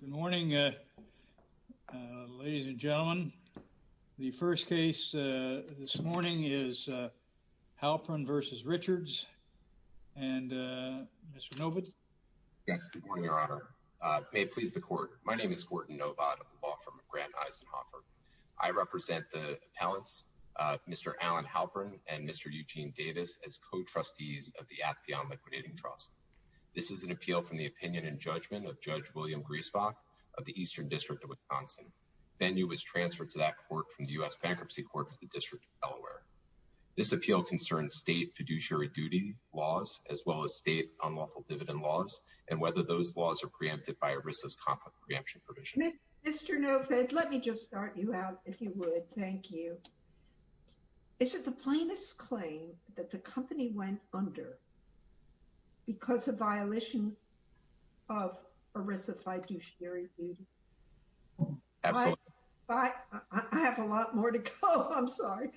Good morning ladies and gentlemen. The first case this morning is Halperin v. Richards and Mr. Novot. Good morning, Your Honor. May it please the Court. My name is Gorton Novot. I represent the appellants Mr. Alan Halperin and Mr. Eugene Davis as co-trustees of the Atheon Liquidating Trust. This is an appeal from the opinion and judgment of Judge William Griesbach of the Eastern District of Wisconsin. Venue was transferred to that court from the U.S. Bankruptcy Court for the District of Delaware. This appeal concerns state fiduciary duty laws as well as state unlawful dividend laws and whether those laws are preempted by a riskless conflict preemption provision. Mr. Novot, let me just start you out if you would. Thank you. Is it the plaintiff's claim that the company went under because of violation of ERISA fiduciary duty? Absolutely. I have a lot more to go. I'm sorry.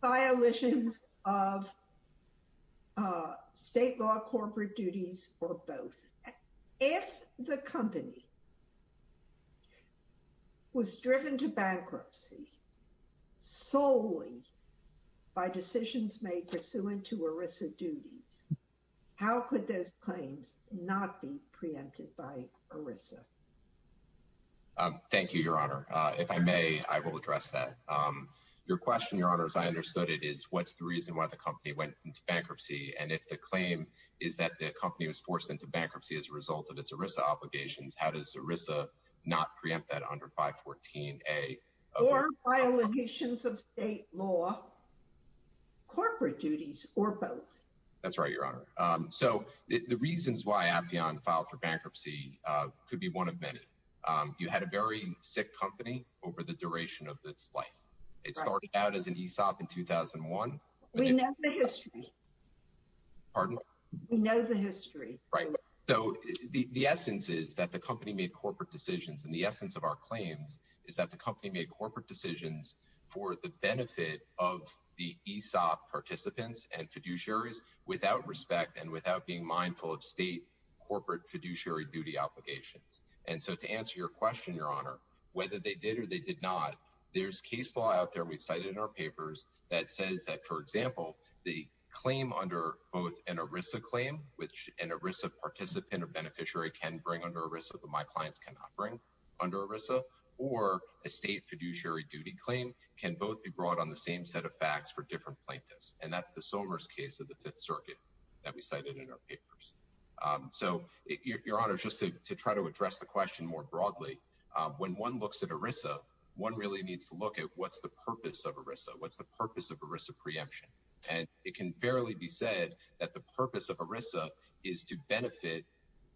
Violations of state law corporate duties or both. If the company was driven to bankruptcy, how could those claims not be preempted by ERISA? Thank you, Your Honor. If I may, I will address that. Your question, Your Honors, I understood it is what's the reason why the company went into bankruptcy and if the claim is that the company was forced into bankruptcy as a result of its ERISA obligations, how does ERISA not preempt that under 514A? Or violations of state law, corporate duties or both? That's right, Your Honor. So the reasons why Appian filed for bankruptcy could be one of many. You had a very sick company over the duration of its life. It started out as an ESOP in 2001. We know the history. Pardon? We know the history. Right. So the essence is that the company made corporate decisions and the essence of our claims is that the company made corporate decisions for the benefit of the ESOP participants and fiduciaries without respect and without being mindful of state corporate fiduciary duty obligations. And so to answer your question, Your Honor, whether they did or they did not, there's case law out there we've cited in our papers that says that, for example, the claim under both an ERISA claim, which an ERISA participant or beneficiary can bring under ERISA, but my clients cannot bring under ERISA, or a state fiduciary duty claim can both be facts for different plaintiffs. And that's the Sommers case of the Fifth Circuit that we cited in our papers. So, Your Honor, just to try to address the question more broadly, when one looks at ERISA, one really needs to look at what's the purpose of ERISA. What's the purpose of ERISA preemption? And it can fairly be said that the purpose of ERISA is to benefit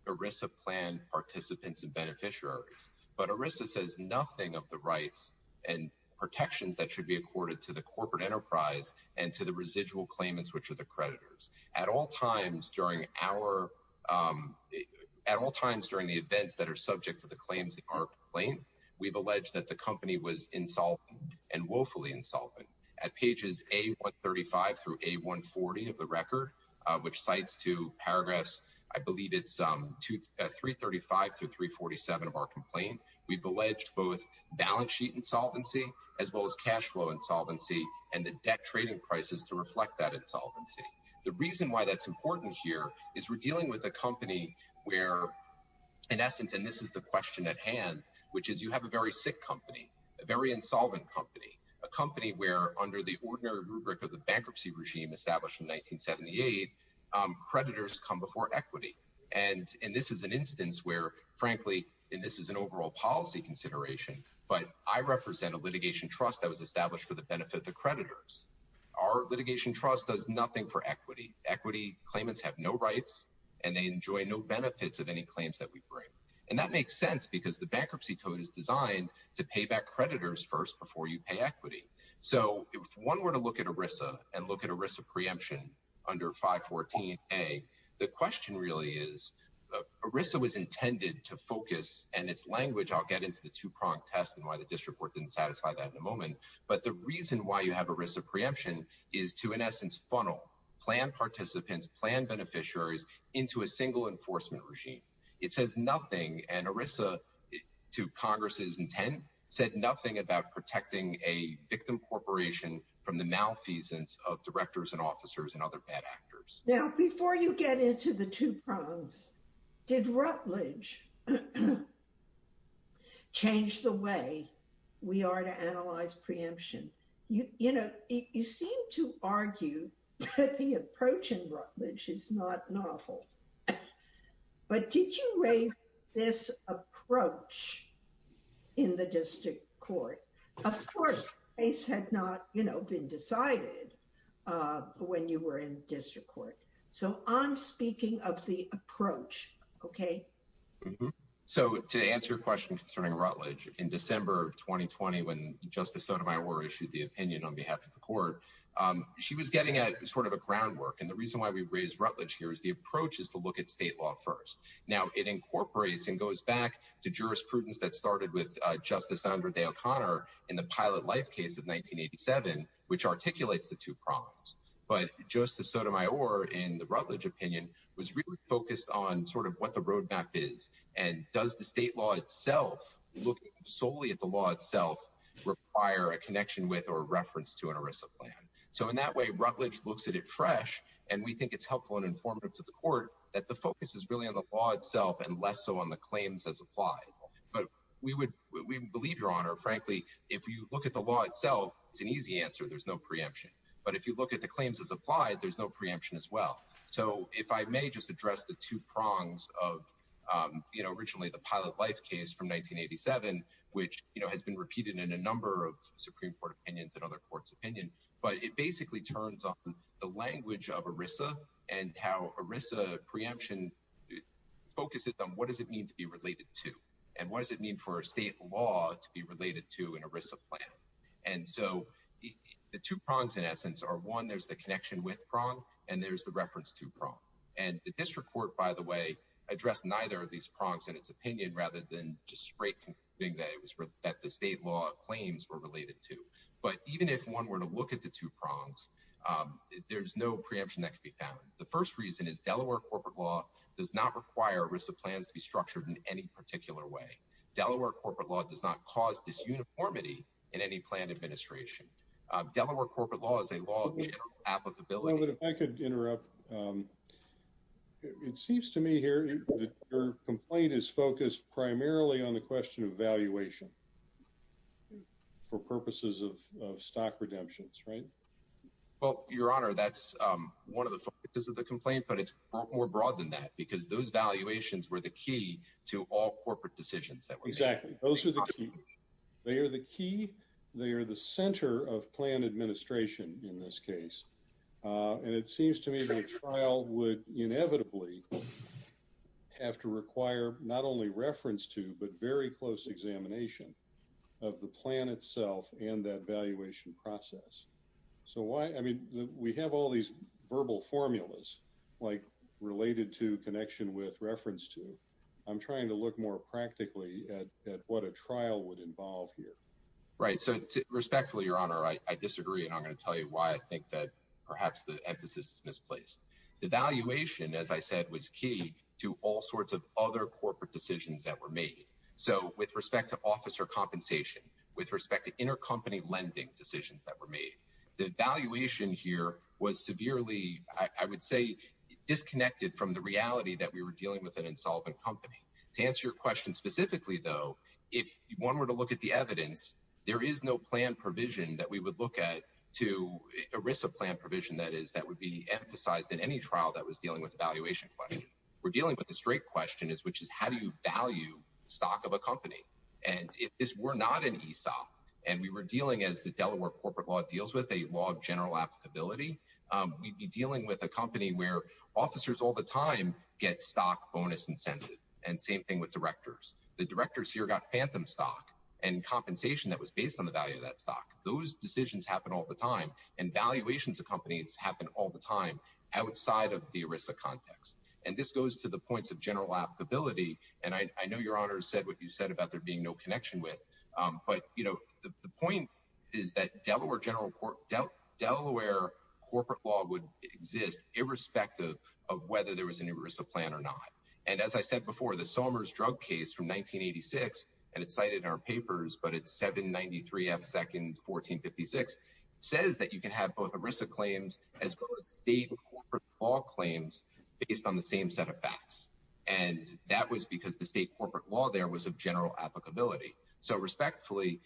ERISA plan participants and beneficiaries. But ERISA says nothing of the rights and protections that should be accorded to the corporate enterprise and to the residual claimants, which are the creditors. At all times during our, at all times during the events that are subject to the claims in our complaint, we've alleged that the company was insolvent and woefully insolvent. At pages A135 through A140 of the record, which cites two paragraphs, I believe it's 335 through 347 of our complaint, we've alleged both balance sheet insolvency as well as cash flow insolvency and the debt trading prices to reflect that insolvency. The reason why that's important here is we're dealing with a company where, in essence, and this is the question at hand, which is you have a very sick company, a very insolvent company, a company where under the ordinary rubric of the bankruptcy regime established in 1978, creditors come before equity. And this is an overall policy consideration, but I represent a litigation trust that was established for the benefit of the creditors. Our litigation trust does nothing for equity. Equity claimants have no rights and they enjoy no benefits of any claims that we bring. And that makes sense because the bankruptcy code is designed to pay back creditors first before you pay equity. So if one were to look at ERISA and look at ERISA preemption under 514A, the question really is ERISA was intended to focus, and it's language, I'll get into the two-pronged test and why the district court didn't satisfy that in a moment, but the reason why you have ERISA preemption is to, in essence, funnel planned participants, planned beneficiaries into a single enforcement regime. It says nothing, and ERISA, to Congress's intent, said nothing about protecting a victim corporation from the malfeasance of directors and officers and other bad actors. Now, before you get into the two prongs, did Rutledge change the way we are to analyze preemption? You know, you seem to argue that the approach in Rutledge is not novel. But did you raise this approach in the district court? Of course, the case had not, you know, been decided when you were in district court. So I'm speaking of the approach, okay? So to answer your question concerning Rutledge, in December of 2020, when Justice Sotomayor issued the opinion on behalf of the court, she was getting at sort of a groundwork. And the reason why we raised Rutledge here is the approach is to look at state law first. Now, it incorporates and goes back to the life case of 1987, which articulates the two prongs. But Justice Sotomayor, in the Rutledge opinion, was really focused on sort of what the roadmap is. And does the state law itself, looking solely at the law itself, require a connection with or reference to an ERISA plan? So in that way, Rutledge looks at it fresh. And we think it's helpful and informative to the court that the focus is really on the law itself and less so on the claims as applied. But we believe, Your Honor, frankly, if you look at the law itself, it's an easy answer. There's no preemption. But if you look at the claims as applied, there's no preemption as well. So if I may just address the two prongs of, you know, originally the Pilot Life case from 1987, which, you know, has been repeated in a number of Supreme Court opinions and other courts opinion, but it basically turns on the language of ERISA and how ERISA preemption focuses on what does it mean to be related to? And what does it mean for a state law to be related to an ERISA plan? And so the two prongs, in essence, are one, there's the connection with prong, and there's the reference to prong. And the district court, by the way, addressed neither of these prongs in its opinion, rather than just straight concluding that the state law claims were related to. But even if one were to look at the two prongs, there's no preemption that can be found. The first reason is Delaware corporate law does not require ERISA plans to be in any particular way. Delaware corporate law does not cause disuniformity in any plan administration. Delaware corporate law is a law of general applicability. But if I could interrupt. It seems to me here that your complaint is focused primarily on the question of valuation for purposes of stock redemptions, right? Well, Your Honor, that's one of the focuses of the complaint, but it's more broad than that, because those to all corporate decisions. Exactly. Those are the key. They are the key. They're the center of plan administration in this case. And it seems to me that trial would inevitably have to require not only reference to, but very close examination of the plan itself and that valuation process. So why? I mean, we have all these verbal formulas like related to connection with reference to I'm trying to look more practically at what a trial would involve here, right? So respectfully, Your Honor, I disagree. And I'm gonna tell you why I think that perhaps the emphasis is misplaced. The valuation, as I said, was key to all sorts of other corporate decisions that were made. So with respect to officer compensation, with respect to intercompany lending decisions that were made, the valuation here was severely, I would say, disconnected from the reality that we were dealing with an insolvent company. To answer your question specifically, though, if one were to look at the evidence, there is no plan provision that we would look at to a risk of plan provision, that is, that would be emphasized in any trial that was dealing with evaluation question. We're dealing with the straight question is, which is how do you value stock of a company? And if this were not an ESOP and we were as the Delaware corporate law deals with a law of general applicability, we'd be dealing with a company where officers all the time get stock bonus incentive. And same thing with directors. The directors here got phantom stock and compensation that was based on the value of that stock. Those decisions happen all the time. And valuations of companies happen all the time outside of the risk of context. And this goes to the points of general applicability. And I know Your Honor said what you said about there being no connection with. But the point is that Delaware corporate law would exist irrespective of whether there was any risk of plan or not. And as I said before, the Somers drug case from 1986, and it's cited in our papers, but it's 793 F second 1456, says that you can have both ERISA claims as well as state corporate law claims based on the same set of facts. And that was because the state corporate law there was a general applicability. So respectfully,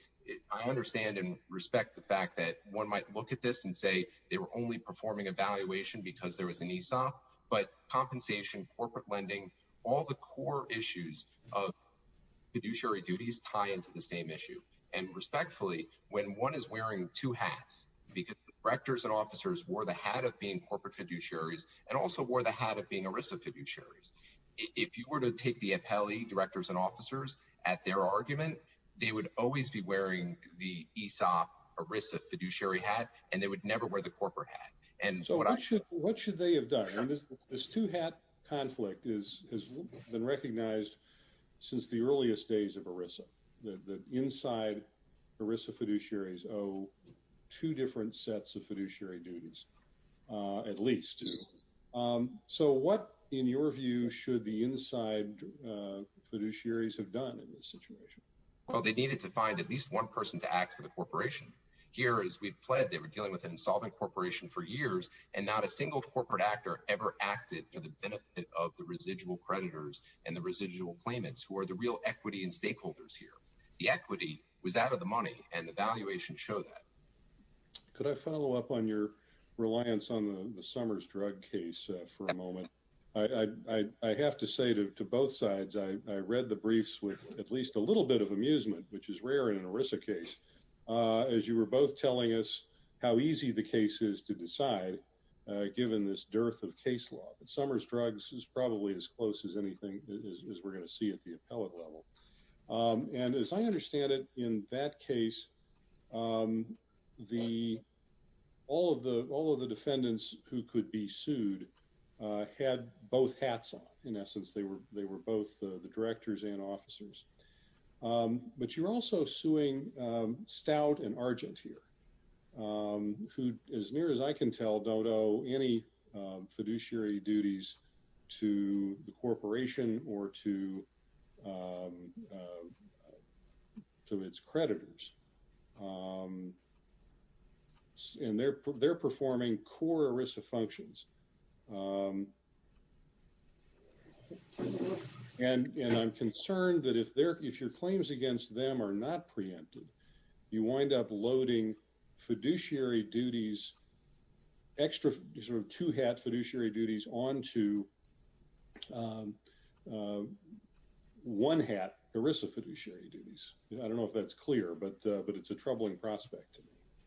I understand and respect the fact that one might look at this and say they were only performing evaluation because there was an ESOP. But compensation, corporate lending, all the core issues of fiduciary duties tie into the same issue. And respectfully, when one is wearing two hats, because directors and officers wore the hat of being corporate fiduciaries, and also wore the hat of being ERISA fiduciaries. If you were to take the appellee directors and officers at their argument, they would always be wearing the ESOP ERISA fiduciary hat, and they would never wear the corporate hat. And so what should what should they have done? This two hat conflict is has been recognized since the earliest days of ERISA. The inside ERISA fiduciaries owe two different sets of fiduciary duties, at least two. So what, in your view, should the inside fiduciaries have done in this situation? Well, they needed to find at least one person to act for the corporation. Here, as we've pledged, they were dealing with an insolvent corporation for years, and not a single corporate actor ever acted for the benefit of the residual creditors and the residual claimants who are the real equity and stakeholders here. The follow-up on your reliance on the Summers drug case for a moment. I have to say to both sides, I read the briefs with at least a little bit of amusement, which is rare in an ERISA case, as you were both telling us how easy the case is to decide, given this dearth of case law. Summers drugs is probably as close as anything as we're going to see at the appellate level. And as I understand it, in that case, all of the defendants who could be sued had both hats on. In essence, they were both the directors and officers. But you're also suing Stout and Argent here, who, as near as I can tell, don't owe any of its creditors. And they're performing core ERISA functions. And I'm concerned that if your claims against them are not preempted, you wind up loading fiduciary duties, extra sort of two-hat fiduciary duties, onto one-hat ERISA fiduciary duties. I don't know if that's clear, but it's a troubling prospect.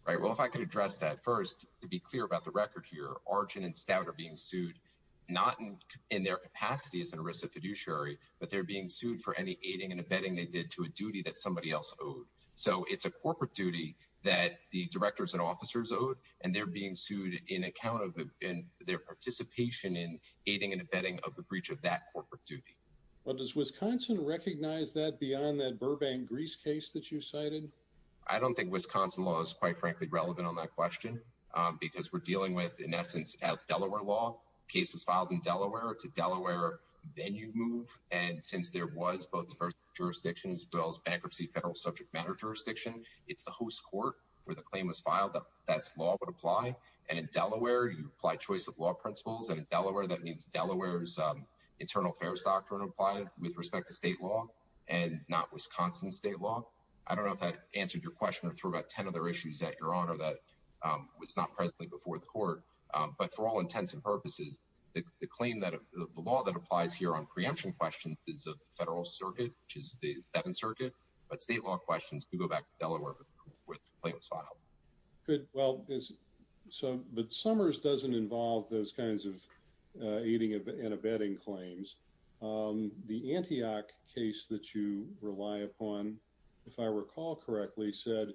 Right. Well, if I could address that first, to be clear about the record here, Argent and Stout are being sued not in their capacity as an ERISA fiduciary, but they're being sued for any aiding and abetting they did to a duty that somebody else owed. So it's a corporate duty that the directors and officers owed, and they're being sued in account of their participation in aiding and abetting of the breach of that corporate duty. Well, does that beyond that Burbank Grease case that you cited? I don't think Wisconsin law is, quite frankly, relevant on that question, because we're dealing with, in essence, Delaware law. The case was filed in Delaware. It's a Delaware venue move. And since there was both the first jurisdiction as well as bankruptcy federal subject matter jurisdiction, it's the host court where the claim was filed. That law would apply. And in Delaware, you apply choice of law principles. And in Delaware, that means Delaware's internal affairs doctrine applied with respect to state law and not Wisconsin state law. I don't know if that answered your question or threw about 10 other issues at your honor that was not presently before the court. But for all intents and purposes, the claim that the law that applies here on preemption questions is of the Federal Circuit, which is the 7th Circuit. But state law questions could go back to Delaware with claims filed. Good. Well, but Summers doesn't involve those The Antioch case that you rely upon, if I recall correctly, said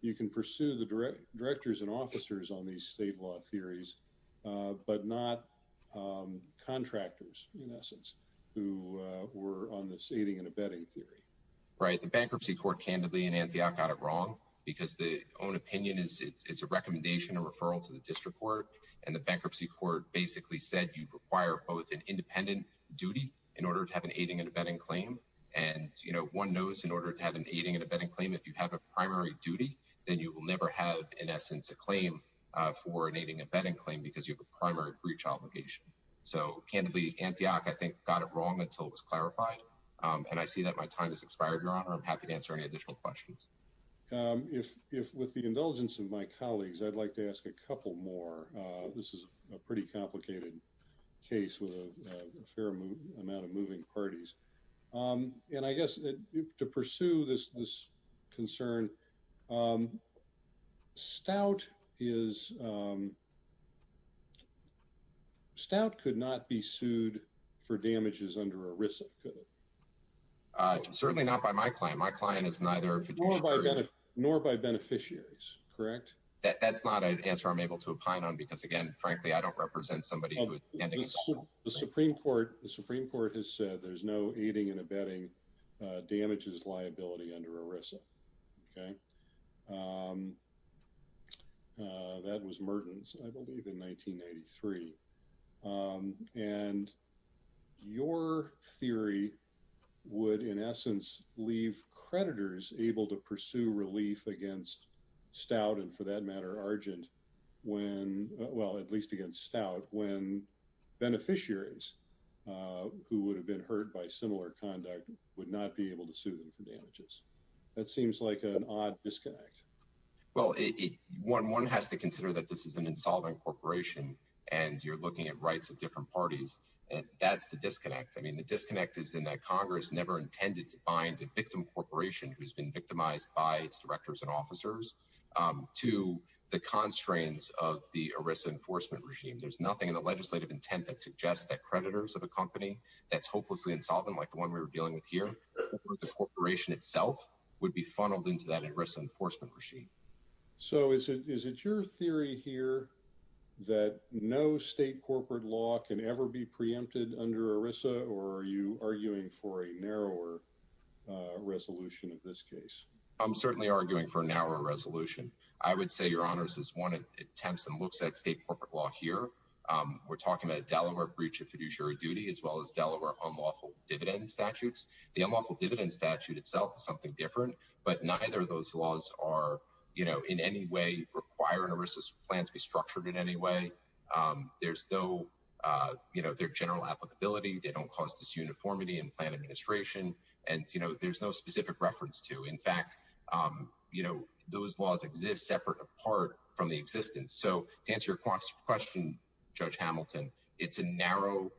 you can pursue the directors and officers on these state law theories, but not contractors, in essence, who were on this aiding and abetting theory. Right. The bankruptcy court, candidly, in Antioch, got it wrong because the own opinion is it's a recommendation, a referral to the district court. And the bankruptcy court basically said you require both an independent duty in order to have an aiding and abetting claim. And, you know, one knows in order to have an aiding and abetting claim, if you have a primary duty, then you will never have, in essence, a claim for an aiding and abetting claim because you have a primary breach obligation. So, candidly, Antioch, I think, got it wrong until it was clarified. And I see that my time has expired, your honor. I'm happy to answer any additional questions. If with the indulgence of my colleagues, I'd like to ask a couple more. This is a pretty complicated case with a fair amount of moving parties. And I guess to pursue this concern, Stout could not be sued for damages under ERISA, could it? Certainly not by my client. My answer, I'm able to opine on because, again, frankly, I don't represent somebody who... The Supreme Court has said there's no aiding and abetting damages liability under ERISA, okay? That was Mertens, I believe, in 1993. And your theory would, in essence, leave creditors able to pursue relief against Stout, and for that matter, Argent, when... Well, at least against Stout, when beneficiaries who would have been hurt by similar conduct would not be able to sue them for damages. That seems like an odd disconnect. Well, one has to consider that this is an insolvent corporation, and you're looking at rights of different parties, and that's the disconnect. I mean, the disconnect is in that Congress never intended to find a victim corporation who's been victimized by its directors and officers to the constraints of the ERISA enforcement regime. There's nothing in the legislative intent that suggests that creditors of a company that's hopelessly insolvent, like the one we were dealing with here, the corporation itself would be funneled into that ERISA enforcement regime. So is it your theory here that no state corporate law can ever be preempted under ERISA, or are you arguing for a narrower resolution of this case? I'm certainly arguing for a narrower resolution. I would say, Your Honors, as one attempts and looks at state corporate law here, we're talking about a Delaware breach of fiduciary duty, as well as Delaware unlawful dividend statutes. The unlawful dividend statute itself is something different, but neither of those laws are, you know, in any way requiring ERISA's plans to be structured in any way. There's no, you know, their general applicability, they don't cause disuniformity in plan administration, and, you know, there's no specific reference to. In fact, you know, those laws exist separate, apart from the existence. So to answer your question, Judge Hamilton, it's a narrow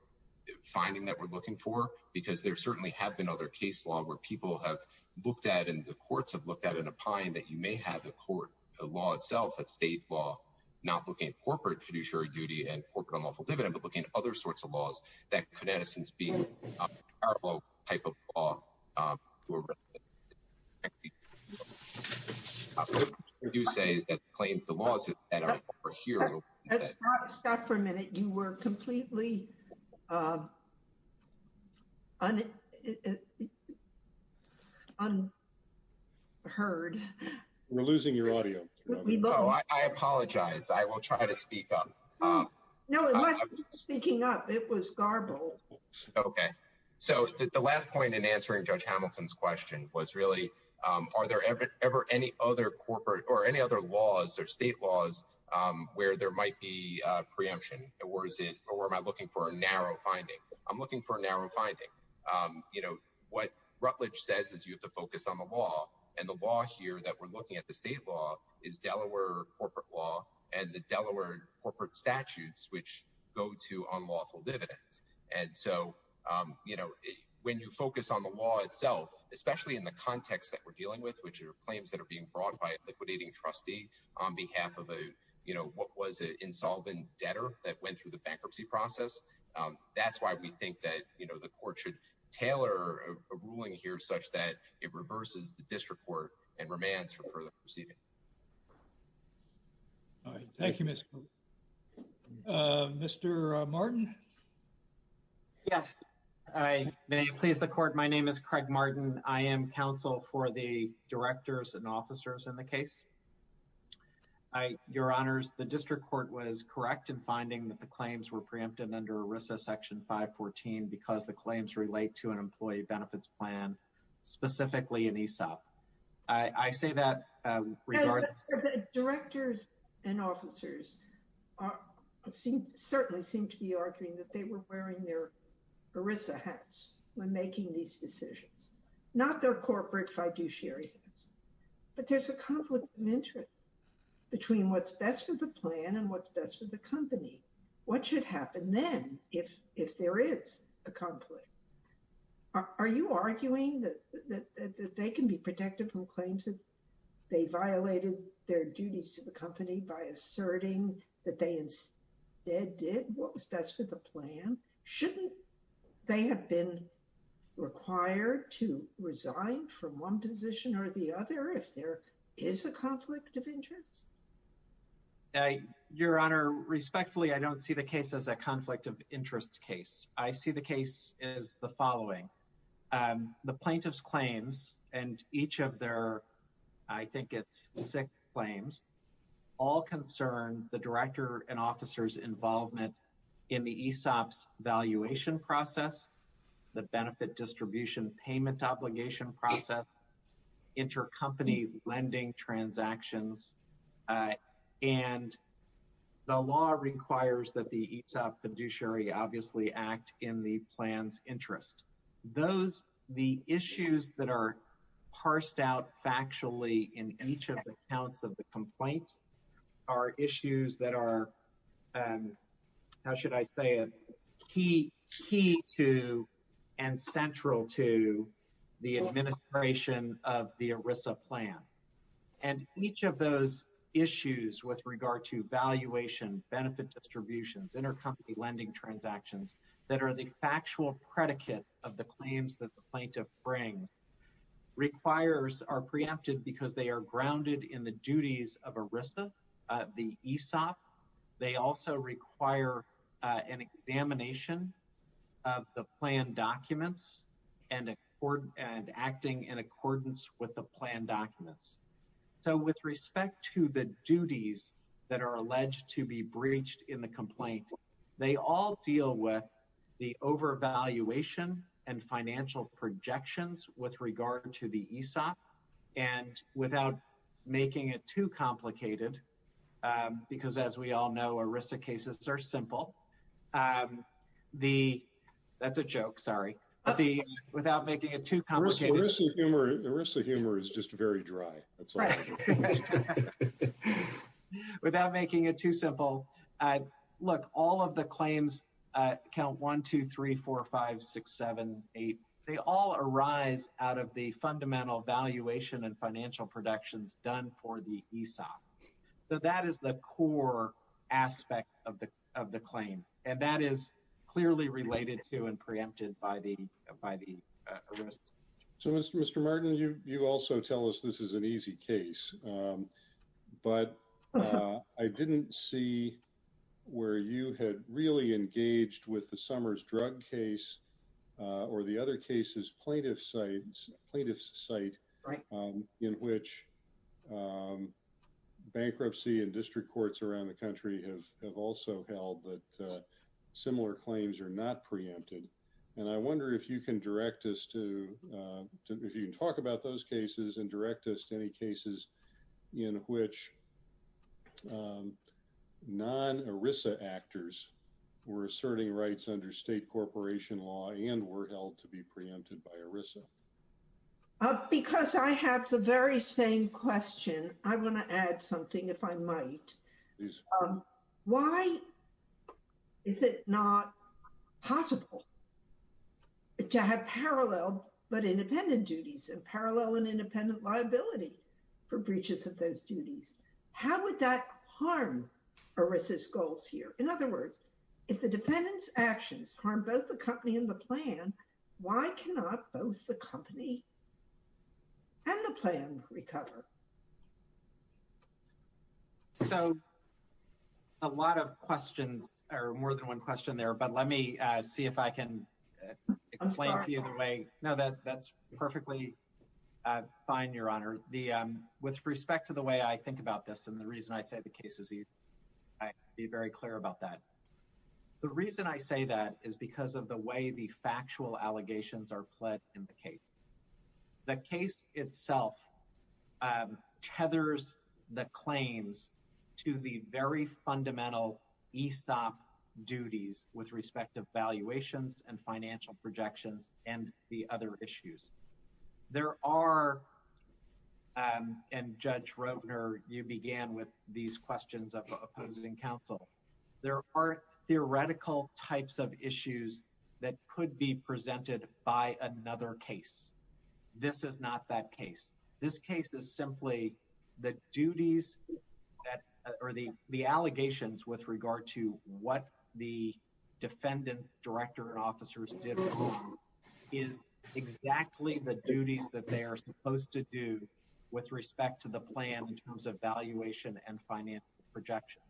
finding that we're looking for, because there certainly have been other case law where people have looked at, and the courts have looked at, and opined that you may have a court, a law itself, that's state law, not looking at corporate fiduciary duty and corporate unlawful dividend, but looking at other sorts of laws that could, in essence, be a parallel type of law to a representative. What I do say is that the claims of the laws that are here. Let's stop for a minute. You were completely unheard. We're losing your audio. Oh, I apologize. I will try to speak up. No, it wasn't speaking up. It was garbled. Okay. So the last point in answering Judge Hamilton's question was really, are there ever any other corporate or any other laws or state laws where there might be preemption? Or is it, or am I looking for a narrow finding? I'm looking for a narrow finding. You know, what Rutledge says is you have to focus on the law, and the law here that we're looking at, the state law, is Delaware corporate law, and the Delaware corporate statutes, which go to unlawful dividends. And so, you know, when you focus on the law itself, especially in the context that we're dealing with, which are claims that are being brought by a liquidating trustee on behalf of a, you know, what was it, insolvent debtor that went through the bankruptcy process. That's why we think that, you know, the court should tailor a ruling here such that it reverses the district court and remands for further proceeding. All right. Thank you, Mr. Martin. Yes. I may please the court. My name is Craig Martin. I am counsel for the directors and officers in the case. Your honors, the district court was correct in finding that the claims were preempted under ERISA section 514 because the I say that. Directors and officers seem certainly seem to be arguing that they were wearing their ERISA hats when making these decisions, not their corporate fiduciary. But there's a conflict of interest between what's best for the plan and what's best for the company. What should happen then if there is a conflict? Are you arguing that they can be protected from claims that they violated their duties to the company by asserting that they instead did what was best for the plan? Shouldn't they have been required to resign from one position or the other if there is a conflict of interest? Your honor, respectfully, I don't see the case as a conflict of interest case. I see the case as the following. The plaintiff's claims and each of their, I think it's six claims, all concern the director and officer's involvement in the ESOP's valuation process, the benefit distribution payment obligation process, intercompany lending transactions. And the law requires that ESOP fiduciary obviously act in the plan's interest. Those, the issues that are parsed out factually in each of the accounts of the complaint are issues that are, how should I say it, key to and central to the administration of the ERISA plan. And each of those issues with regard to valuation, benefit distributions, intercompany lending transactions, that are the factual predicate of the claims that the plaintiff brings, requires, are preempted because they are grounded in the duties of ERISA, the ESOP. They also require an examination of the plan documents and acting in accordance with the plan obligations. And the ESOP investigation, the ESOP case, the ESOP case, the ESOP case that was reached in the complaint, they all deal with the over-valuation and financial projections with regard to the ESOP and without making it too complicated because as we all know ERISA cases are simple. That's a joke, sorry. Without making it too complicated. ERISA humor is just very dry. Without making it too simple. Look, all of the claims, count 1, 2, 3, 4, 5, 6, 7, 8, they all arise out of the fundamental valuation and financial productions done for the ESOP. So that is the core aspect of the claim. And that is clearly related to and preempted by the ERISA. So Mr. Martin, you also tell us this is an easy case. But I didn't see where you had really engaged with the Summers drug case or the other cases plaintiff sites, plaintiff's site in which bankruptcy and district courts around the country have also held that similar claims are not preempted. And I wonder if you can direct us to, if you can talk about those cases and direct us to any cases in which non-ERISA actors were asserting rights under state corporation law and were held to be preempted by ERISA. Because I have the very same question. I want to add something if I might. Why is it not possible to have parallel but independent duties and parallel and independent liability for breaches of those duties? How would that harm ERISA's goals here? In other words, if the defendant's actions harm both the company and the plan, why cannot both the company and the plan recover? So a lot of questions, or more than one question there, but let me see if I can explain to you the way. No, that's perfectly fine, Your Honor. With respect to the way I think about this and the reason I say the case is easy, I have to be very clear about that. The reason I say that is because of the way the factual allegations are pled in the case. The case itself tethers the claims to the very fundamental ESOP duties with respect to valuations and financial projections and the other issues. There are, and Judge Rovner, you began with these questions of opposing counsel. There are theoretical types of issues that could be this is not that case. This case is simply the duties or the allegations with regard to what the defendant, director, and officers did wrong is exactly the duties that they are supposed to do with respect to the plan in terms of valuation and financial projection.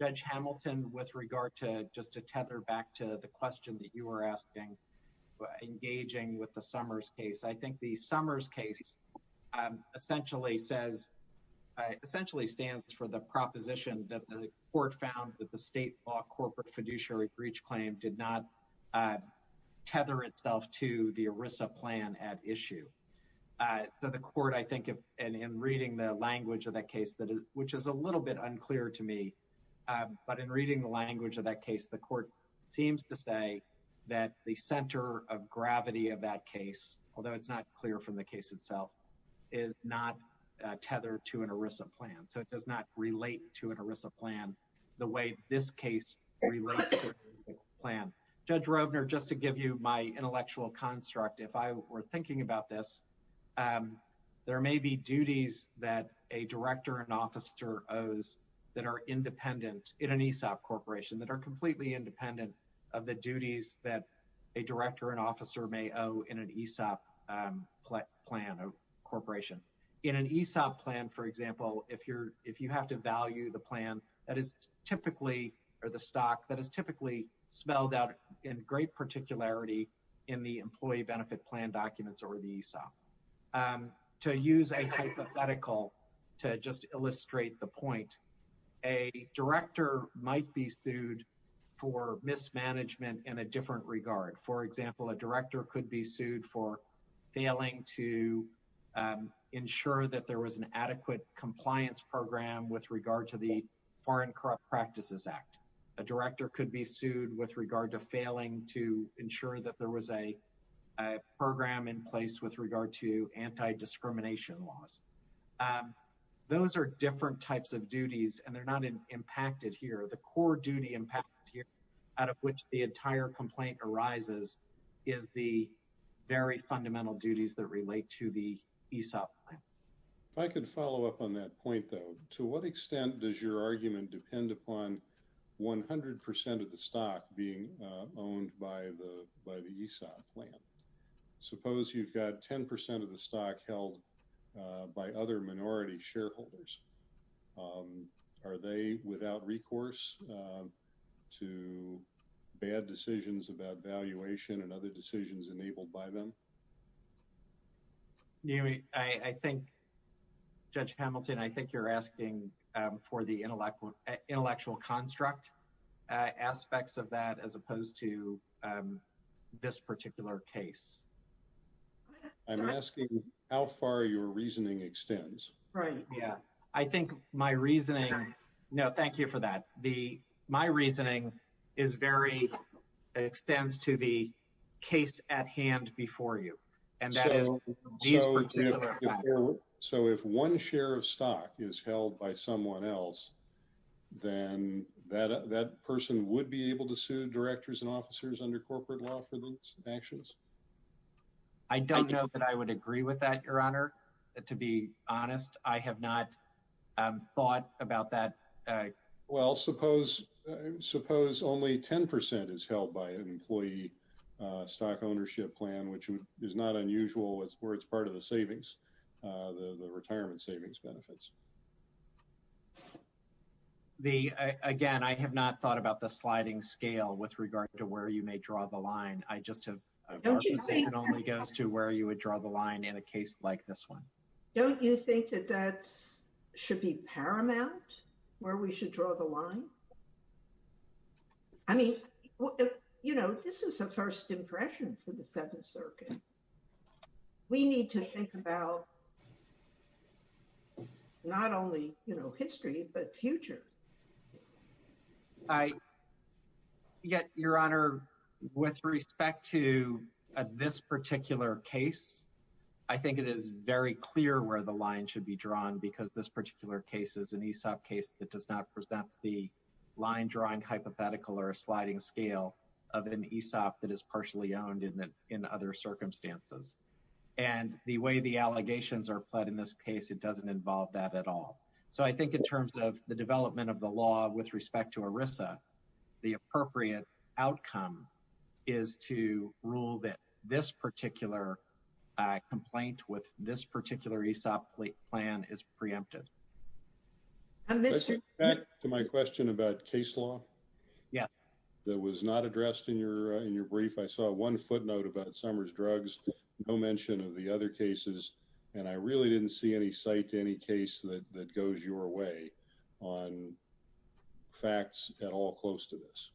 Judge Hamilton, with regard to just to tether back to the question that you were asking, engaging with the Summers case, I think the Summers case essentially says, essentially stands for the proposition that the court found that the state law corporate fiduciary breach claim did not tether itself to the ERISA plan at issue. The court, I think, in reading the language of that case, which is a little bit unclear to me, but in reading the language of that case, the court seems to say that the ERISA plan, although it's not clear from the case itself, is not tethered to an ERISA plan. So it does not relate to an ERISA plan the way this case relates to an ERISA plan. Judge Rovner, just to give you my intellectual construct, if I were thinking about this, there may be duties that a director and officer owes that are independent in an ESOP corporation that are completely independent of the duties that a director and officer may owe in an ESOP plan of corporation. In an ESOP plan, for example, if you have to value the plan that is typically or the stock that is typically spelled out in great particularity in the employee benefit plan documents or the ESOP. To use a hypothetical to just illustrate the point, a director might be sued for mismanagement in a different regard. For example, a director could be sued for failing to ensure that there was an adequate compliance program with regard to the Foreign Corrupt Practices Act. A director could be sued with regard to failing to ensure that there was a program in place with regard to anti-discrimination laws. Those are different types of duties and they're not impacted here. The core duty impact here out of which the entire complaint arises is the very fundamental duties that relate to the ESOP plan. If I could follow up on that point, though, to what extent does your argument depend upon 100 percent of the stock being owned by the ESOP plan? Suppose you've got 10 percent of the stock held by other minority shareholders. Are they without recourse to bad decisions about valuation and other decisions enabled by them? I think, Judge Hamilton, I think you're asking for the intellectual construct aspects of that as opposed to this particular case. I'm asking how far your reasoning extends. Right. Yeah. I think my reasoning... No, thank you for that. My reasoning is very... extends to the case at hand before you and that is these particular factors. So if one share of stock is held by someone else, then that person would be able to sue directors and officers under corporate law for those actions? I don't know that I would agree with that, Your Honor. To be honest, I have not thought about that. Well, suppose only 10 percent is held by an employee stock ownership plan, which is not the retirement savings benefits. Again, I have not thought about the sliding scale with regard to where you may draw the line. Our position only goes to where you would draw the line in a case like this one. Don't you think that that should be paramount, where we should draw the line? I mean, you know, this is a first impression for the Seventh Circuit. We need to think about not only history, but future. Yet, Your Honor, with respect to this particular case, I think it is very clear where the line should be drawn because this particular case is an Aesop case that does not present the line-drawing hypothetical or a sliding scale of an Aesop that is partially owned in other circumstances. And the way the allegations are pled in this case, it doesn't involve that at all. So I think in terms of the development of the law with respect to ERISA, the appropriate outcome is to rule that this particular complaint with this particular Aesop plan is preempted. Mr. Back to my question about case law. Yeah. That was not addressed in your brief. I saw one footnote about Summers Drugs, no mention of the other cases, and I really didn't see any site to any case that goes your way on facts at all close to this.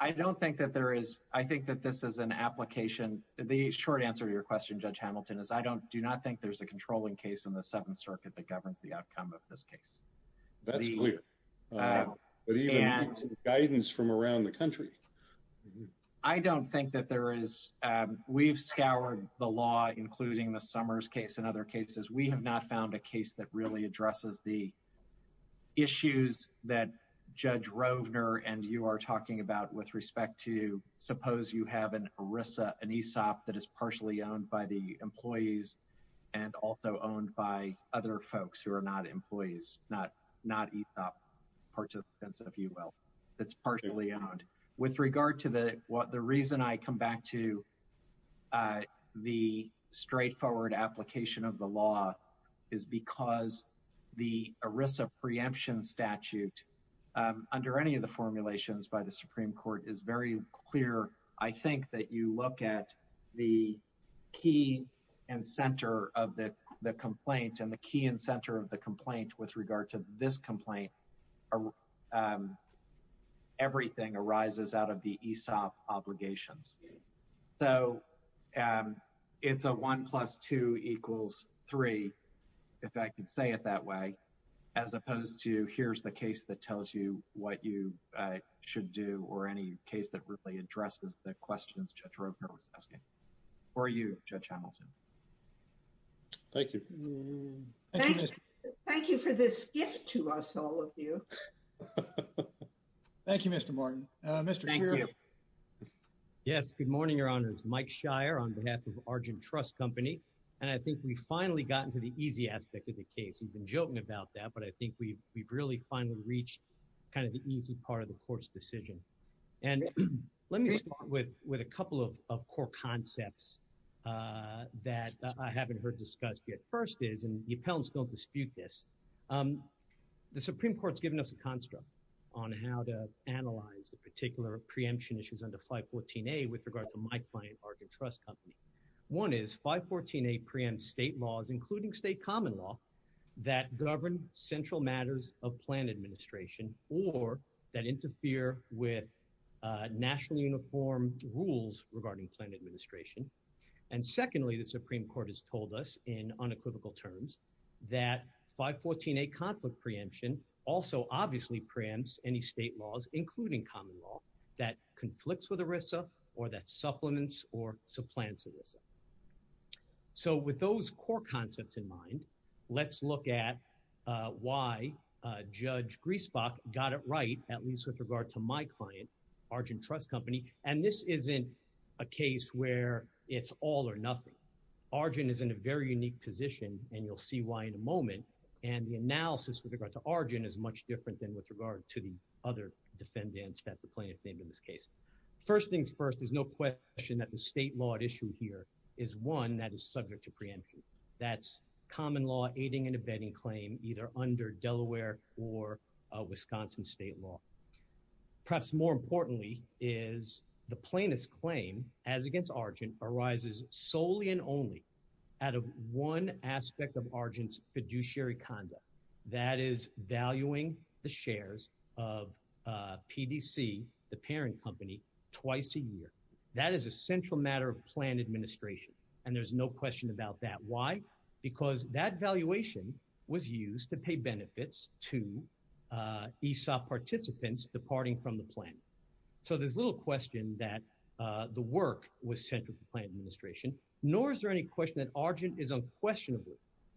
I don't think that there is. I think that this is an application. The short answer to your question, Judge Hamilton, is I do not think there's a controlling case in the Seventh of this case. That's clear. But even guidance from around the country. I don't think that there is. We've scoured the law, including the Summers case and other cases. We have not found a case that really addresses the issues that Judge Rovner and you are talking about with respect to, suppose you have an ERISA, an Aesop that is partially owned by the employees and also not Aesop participants, if you will, that's partially owned. With regard to the reason I come back to the straightforward application of the law is because the ERISA preemption statute, under any of the formulations by the Supreme Court, is very clear. I think that you look at the key and center of the complaint and the key and center of the complaint with regard to this complaint, everything arises out of the Aesop obligations. So it's a one plus two equals three, if I could say it that way, as opposed to here's the case that tells you what you should do or any case that really addresses the questions Judge Rovner was asking. For you, Judge Hamilton. Thank you. Thank you for this gift to us, all of you. Thank you, Mr. Martin. Yes, good morning, Your Honors. Mike Shire on behalf of Argent Trust Company. And I think we finally got into the easy aspect of the case. You've been joking about that, but I think we've really finally reached kind of the easy part of the court's decision. And let me start with a couple of core concepts that I haven't heard discussed yet. And the first is, and the appellants don't dispute this, the Supreme Court's given us a construct on how to analyze the particular preemption issues under 514A with regard to my client, Argent Trust Company. One is 514A preempts state laws, including state common law, that govern central matters of plan administration or that interfere with nationally uniform rules regarding plan administration. And secondly, the Supreme Court has given us very specific and typical terms that 514A conflict preemption also obviously preempts any state laws, including common law, that conflicts with ERISA or that supplements or supplants ERISA. So with those core concepts in mind, let's look at why Judge Griesbach got it right, at least with regard to my client, Argent Trust Company. And this isn't a case where it's all or nothing. Argent is in a very unique position, and you'll see why in a moment. And the analysis with regard to Argent is much different than with regard to the other defendants that the plaintiff named in this case. First things first, there's no question that the state law at issue here is one that is subject to preemption. That's common law aiding and abetting claim, either under Delaware or Wisconsin state law. Perhaps more importantly is the plaintiff's claim, as against Argent, arises solely and only out of one aspect of Argent's fiduciary conduct. That is valuing the shares of PDC, the parent company, twice a year. That is a central matter of plan administration, and there's no question about that. Why? Because that valuation was used to pay benefits to ESOP participants departing from the plan. So there's little question that the work was central to plan administration, nor is there any question that Argent is unquestionably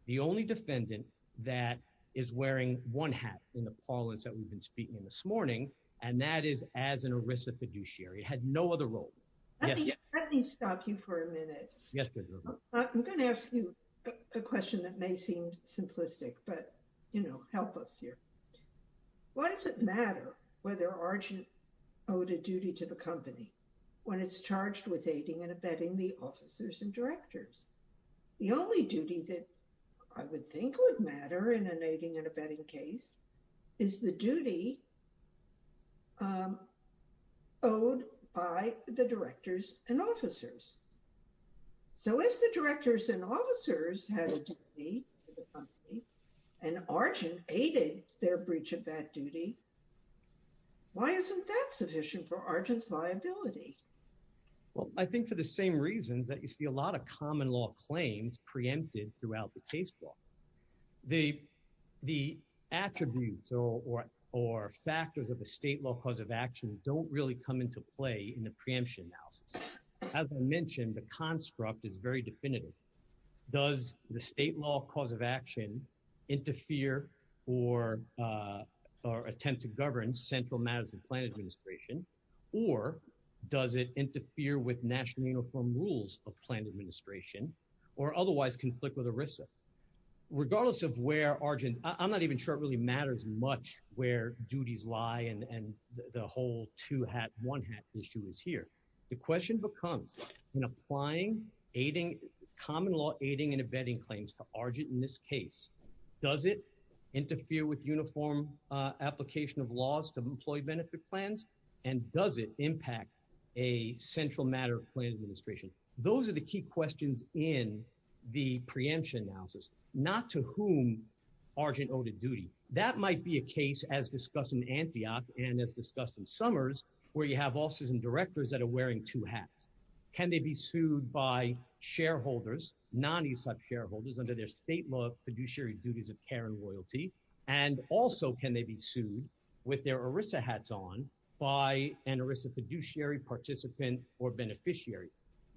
the only defendant that is wearing one hat in the parlance that we've been speaking in this morning, and that is as an ERISA fiduciary. It had no other role. Let me stop you for a minute. Yes. I'm going to ask you a question that may seem simplistic, but you know, help us here. Why does it matter whether Argent owed a duty to the company when it's charged with aiding and abetting the officers and directors? The only duty that I would think would matter in an aiding and abetting case is the duty owed by the directors and officers. So if the directors and officers had a duty to the company and Argent aided their breach of that duty, why isn't that sufficient for Argent's liability? Well, I think for the same reasons that you see a lot of common law claims preempted throughout the case law. The attributes or factors of the state law cause of action don't really come into play in the preemption analysis. As I mentioned, the construct is very definitive. Does the state law cause of action interfere or attempt to govern central matters of plan administration? Or does it interfere with national uniform rules of plan administration or otherwise conflict with ERISA? Regardless of where Argent, I'm not even sure it really matters much where duties lie and the whole two hat one hat issue is here. The question becomes in applying aiding common law aiding and abetting claims to Argent in this case. Does it interfere with uniform application of laws to employee benefit plans? And does it impact a central matter of plan administration? Those are the key questions in the preemption analysis, not to whom Argent owed a duty. That might be a case as discussed in Antioch and as discussed in Summers where you have officers and directors that are wearing two hats. Can they be sued by shareholders non-ESOP shareholders under their state law fiduciary duties of care and loyalty? And also can they be sued with their ERISA hats on by an ERISA fiduciary participant or beneficiary?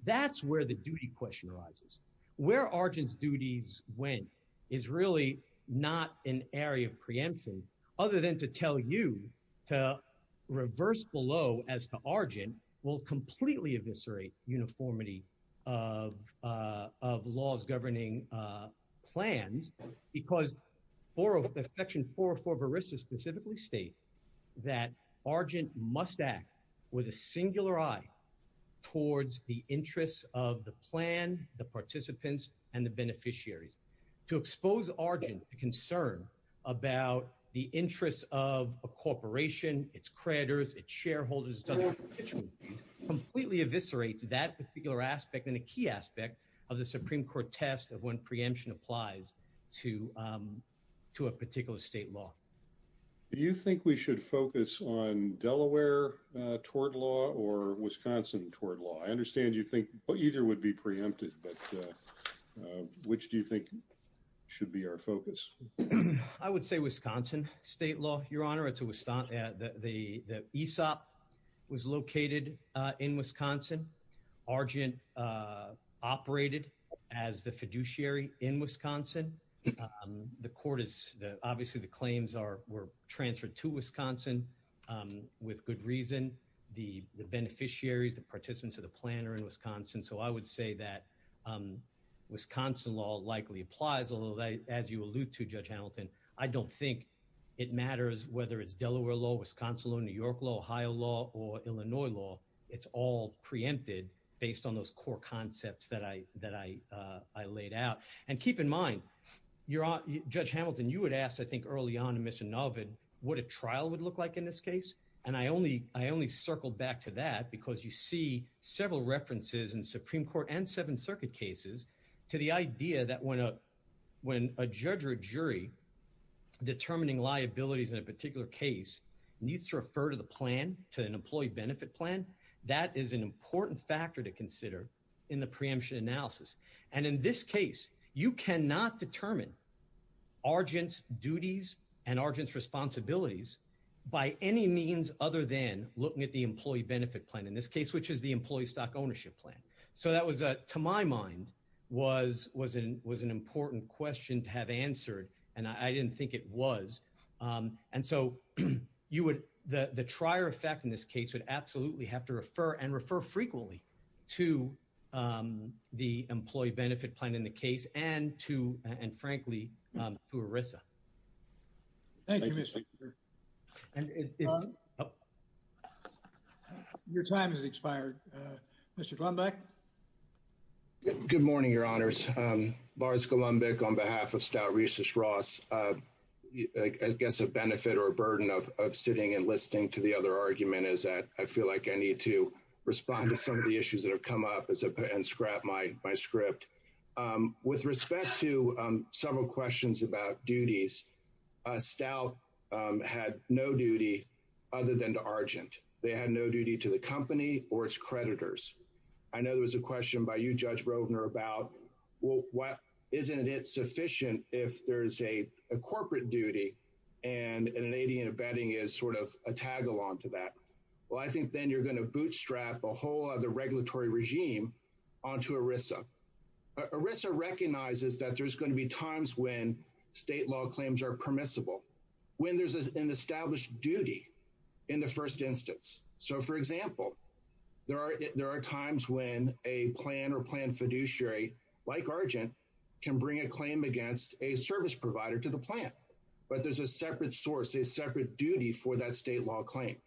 That's where the duty question arises. Where Argent's duties went is really not an area of preemption other than to tell you to reverse below as to Argent will completely eviscerate uniformity of laws governing plans because Section 404 of ERISA specifically states that Argent must act with a singular eye towards the interests of the plan, the participants, and the beneficiaries. To expose Argent to concern about the interests of a corporation, its creditors, its shareholders, its other constituencies completely eviscerates that particular aspect and a key aspect of the Supreme Court test of when preemption applies to a particular state law. Do you think we should focus on Delaware tort law or Wisconsin tort law? I understand you think either would be preempted, but which do you think should be our focus? I would say Wisconsin state law, your honor. The ESOP was located in Wisconsin. Argent operated as the fiduciary in Wisconsin. Obviously, the claims were transferred to Wisconsin with good reason. The beneficiaries, the participants of the plan are in Wisconsin, so I would say that Wisconsin law likely applies, although as you allude to, Judge Hamilton, I don't think it matters whether it's Delaware law, Wisconsin law, New York law, Ohio law, or Illinois law. It's all preempted based on those core concepts that I laid out. Keep in mind, your honor, Judge Hamilton, you had asked, I think, early on, Mr. Novin, what a trial would look like in this case, and I only circled back to that because you see several references in Supreme Court and Seventh Circuit cases to the idea that when a judge or a jury determining liabilities in a particular case needs to refer to the plan, to an employee benefit plan, that is an important factor to consider in the preemption analysis. And in this case, you have to determine Argent's duties and Argent's responsibilities by any means other than looking at the employee benefit plan, in this case, which is the employee stock ownership plan. So that was, to my mind, was an important question to have answered, and I didn't think it was. And so you would, the trier effect in this case would absolutely have to refer, and refer and frankly, to ERISA. Thank you, Mr. Chair. Your time has expired. Mr. Golombek? Good morning, your honors. Lars Golombek on behalf of Stout Rhesus Ross. I guess a benefit or a burden of sitting and listening to the other argument is that I feel like I need to respond to some of the issues that have come up and scrap my script. With respect to several questions about duties, Stout had no duty other than to Argent. They had no duty to the company or its creditors. I know there was a question by you, Judge Rovner, about, well, isn't it sufficient if there's a corporate duty and an AD and a betting is sort of a tag along to that? Well, I think then you're going to bootstrap a whole other regulatory regime onto ERISA. ERISA recognizes that there's going to be times when state law claims are permissible, when there's an established duty in the first instance. So, for example, there are times when a plan or plan fiduciary, like Argent, can bring a claim against a service provider to the plan, but there's a separate source, a separate duty for that state law claim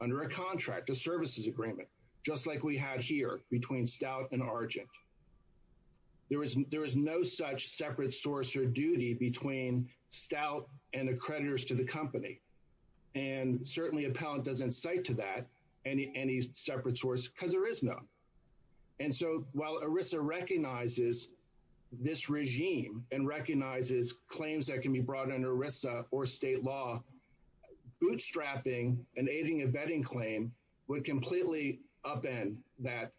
under a contract, a services agreement, just like we had here between Stout and Argent. There is no such separate source or duty between Stout and the creditors to the company. And certainly, Appellant doesn't cite to that any separate source because there is none. And so, while ERISA recognizes this regime and recognizes claims that can be brought under ERISA or state law, bootstrapping and aiding a betting claim would completely upend that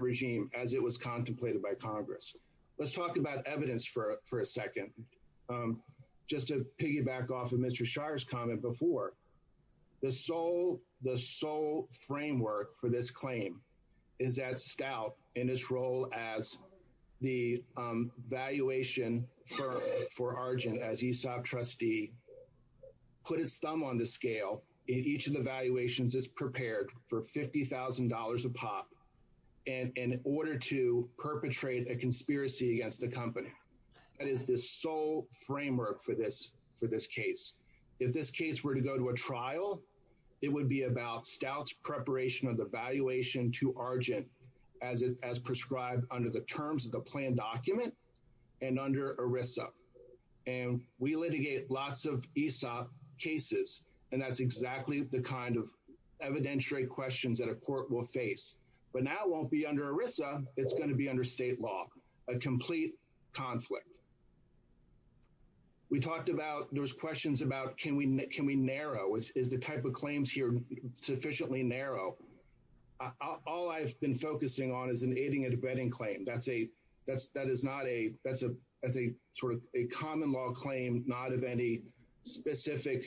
regime as it was contemplated by Congress. Let's talk about evidence for a second. Just to piggyback off of Mr. Shire's comment before, the sole framework for this claim is that Stout, in its role as the valuation for Argent as ESOP trustee, put its thumb on the scale. Each of the valuations is prepared for $50,000 a pop in order to perpetrate a conspiracy against the company. That is the sole framework for this case. If this case were to go to a trial, it would be about Stout's preparation of the valuation to Argent as prescribed under the terms of the plan document and under ERISA. And we litigate lots of ESOP cases, and that's exactly the kind of evidentiary questions that a court will face. But now it won't be under ERISA. It's going to be under state law, a complete conflict. We talked about, there was questions about, can we narrow? Is the type of claims here sufficiently narrow? All I've been focusing on is an aiding and abetting claim. That is not a sort of a common law claim, not of any specific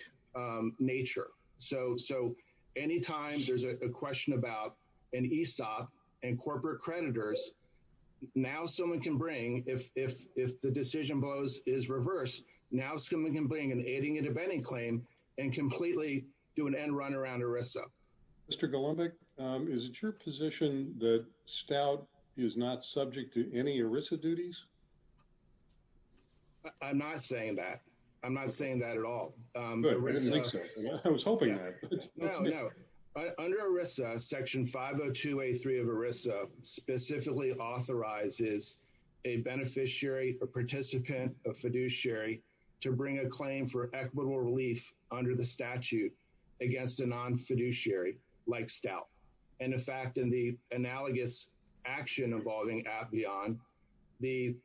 nature. So anytime there's a question about ESOP and corporate creditors, now someone can bring, if the decision is reversed, now someone can bring an aiding and abetting claim and completely do an end run around ERISA. MR. GOLDBECK, is it your position that Stout is not subject to any ERISA duties? I'm not saying that. I'm not saying that at all. Good. I didn't think so. I was hoping that. No, no. Under ERISA, Section 502A3 of ERISA specifically authorizes a beneficiary or participant of fiduciary to bring a claim for equitable relief under the statute against a non-fiduciary like Stout. And in fact, in the analogous action involving Appian, the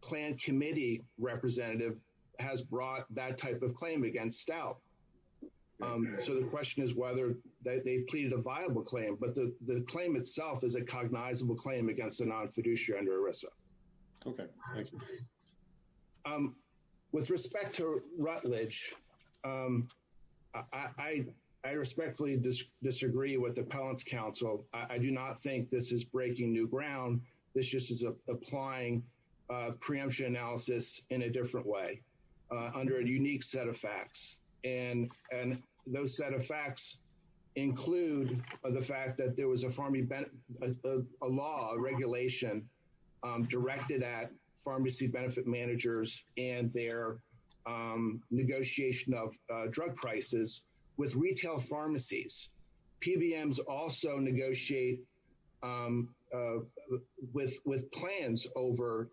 planned committee representative has brought that type of claim against Stout. So the question is whether they pleaded a viable claim, but the claim itself is a cognizable claim against a non-fiduciary under ERISA. Okay. Thank you. With respect to Rutledge, I respectfully disagree with Appellant's counsel. I do not think this is preemption analysis in a different way under a unique set of facts. And those set of facts include the fact that there was a law, a regulation directed at pharmacy benefit managers and their negotiation of drug prices with retail pharmacies. PBMs also negotiate with plans over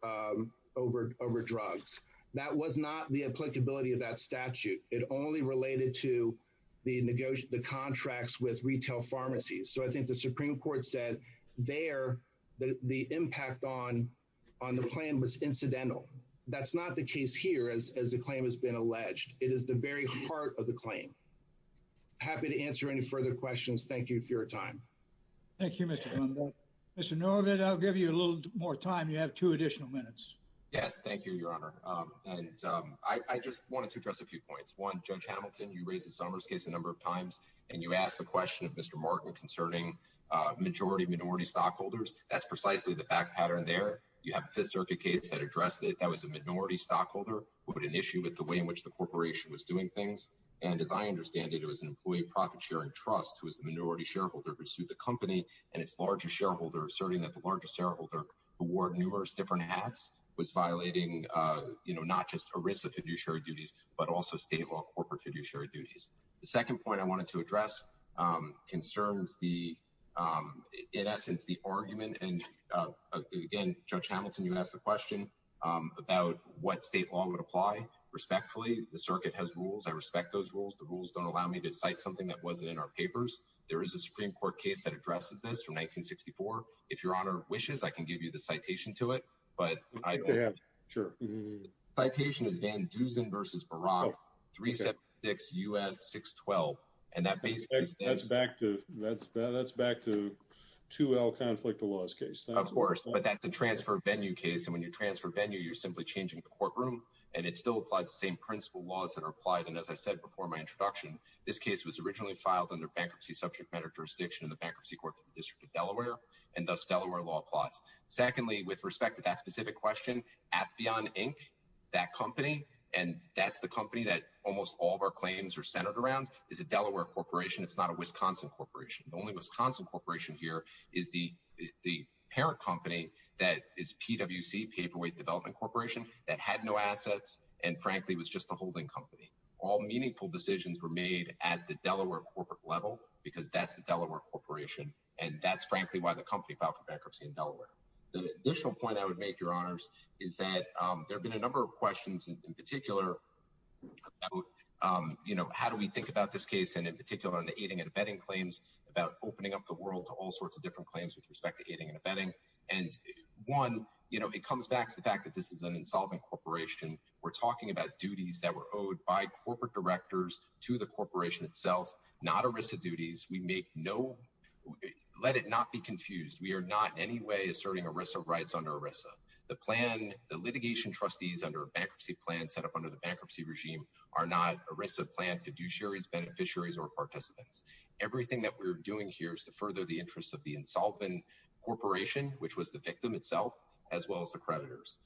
drugs. That was not the applicability of that statute. It only related to the contracts with retail pharmacies. So I think the Supreme Court said there that the impact on the plan was incidental. That's not the case here as the claim has been alleged. It is the very heart of the claim. Happy to answer any further questions. Thank you for your time. Thank you, Mr. Blumberg. Mr. Norvit, I'll give you a little more time. You have two additional minutes. Yes. Thank you, Your Honor. And I just wanted to address a few points. One, Judge Hamilton, you raised the Summers case a number of times, and you asked the question of Mr. Martin concerning majority-minority stockholders. That's precisely the fact pattern there. You have the Fifth Circuit case that addressed it. That was a minority stockholder who had an issue with the way in which the corporation was doing things. And as I understand it, it was an employee profit-sharing trust, who was the minority shareholder, who sued the company and its largest shareholder, asserting that the largest shareholder, who wore numerous different hats, was violating not just ERISA fiduciary duties, but also state law corporate fiduciary duties. The second point I wanted to address concerns, in essence, the argument. And again, Judge Hamilton, you asked the question about what state law would apply. Respectfully, the circuit has rules. I respect those rules. The rules don't allow me to cite something that wasn't in our papers. There is a Supreme Court case that addresses this from 1964. If Your Honor wishes, I can give you the citation to it, but I don't. Yeah, sure. Citation is Van Dusen v. Baroque, 376 U.S. 612. And that basically says— That's back to 2L conflict of laws case. Of course, but that's a transfer venue case. And when you transfer venue, you're simply changing the courtroom, and it still applies the same principle laws that are applied. And as I said before my introduction, this case was originally filed under bankruptcy subject matter jurisdiction in the Bankruptcy Court for the District of Delaware, and thus Delaware law applies. Secondly, with respect to that specific question, Appian Inc., that company, and that's the company that almost all of our claims are centered around, is a Delaware corporation. It's not a Wisconsin corporation. The only Wisconsin corporation here is the parent company that is PWC, Paperweight Development Corporation, that had no assets, and frankly was just a holding company. All meaningful decisions were made at the Delaware corporate level because that's the Delaware corporation, and that's frankly why the company filed for bankruptcy in Delaware. The additional point I would make, Your Honors, is that there have been a number of questions, in particular, about how do we think about this case, and in particular on the aiding and abetting claims, about opening up the world to all sorts of different claims with respect to aiding and abetting. One, it comes back to the fact that this is an insolvent corporation. We're talking about duties that were owed by corporate directors to the corporation itself, not ERISA duties. Let it not be confused. We are not in any way asserting ERISA rights under ERISA. The litigation trustees under a bankruptcy plan set up under the bankruptcy regime are not ERISA-planned fiduciaries, beneficiaries, or participants. Everything that we're doing here is to further the interests of the insolvent corporation, which was the victim itself, as well as the creditors.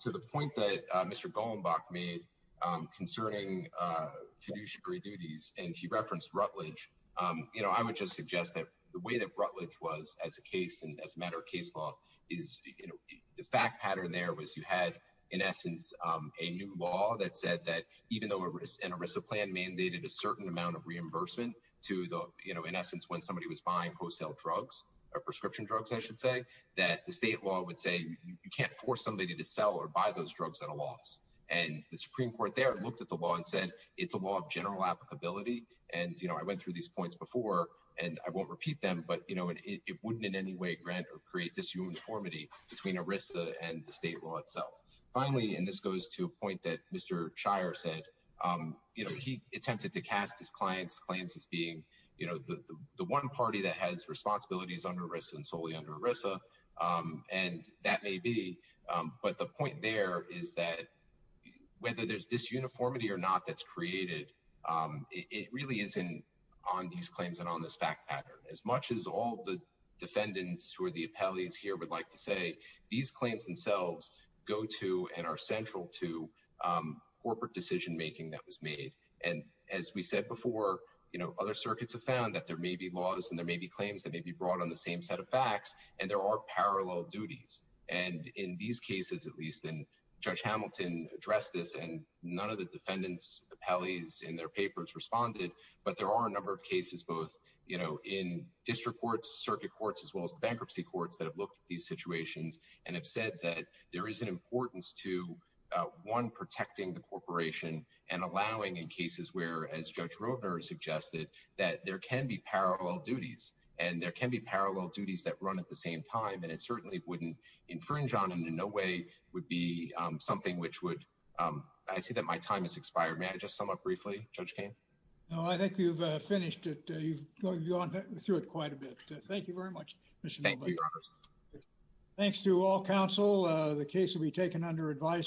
To the point that Mr. Golenbach made concerning fiduciary duties, and he referenced Rutledge, I would just suggest that the way that Rutledge was as a case and as a matter of case law, the fact pattern there was you had, in essence, a new law that said that even though an ERISA plan mandated a certain amount of reimbursement to the, in essence, when somebody was buying wholesale drugs, or prescription drugs, I should say, that the state law would say, you can't force somebody to sell or buy those drugs at a loss. And the Supreme Court there looked at the law and said, it's a law of general applicability. And I went through these points before, and I won't repeat them, but it wouldn't in any way grant or create disuniformity between ERISA and the state law itself. Finally, and this goes to a point that Mr. Shire said, he attempted to cast his client's claims as being the one party that has responsibilities under ERISA and solely under ERISA, and that may be. But the point there is that whether there's disuniformity or not that's created, it really isn't on these claims and on this fact pattern. As much as all the defendants who are the appellees here would like to say, these claims themselves go to and are central to corporate decision making that was made. And as we said before, other circuits have found that there may be laws and there may be claims that may be brought on the same set of facts, and there are parallel duties. And in these cases, at least, and Judge Hamilton addressed this, and none of the defendants appellees in their papers responded, but there are a number of cases both in district courts, circuit courts, as well as the bankruptcy courts that have looked at these situations and have said that there is an importance to, one, protecting the corporation and allowing in cases where, as Judge Roedner suggested, that there can be parallel duties, and there can be parallel duties that run at the same time, and it certainly wouldn't infringe on and in no way would be something which would, I see that my time has expired. May I just sum up briefly, Judge Kane? No, I think you've finished it. You've gone through it quite a bit. Thank you very much. Thanks to all counsel. The case will be taken under advisement.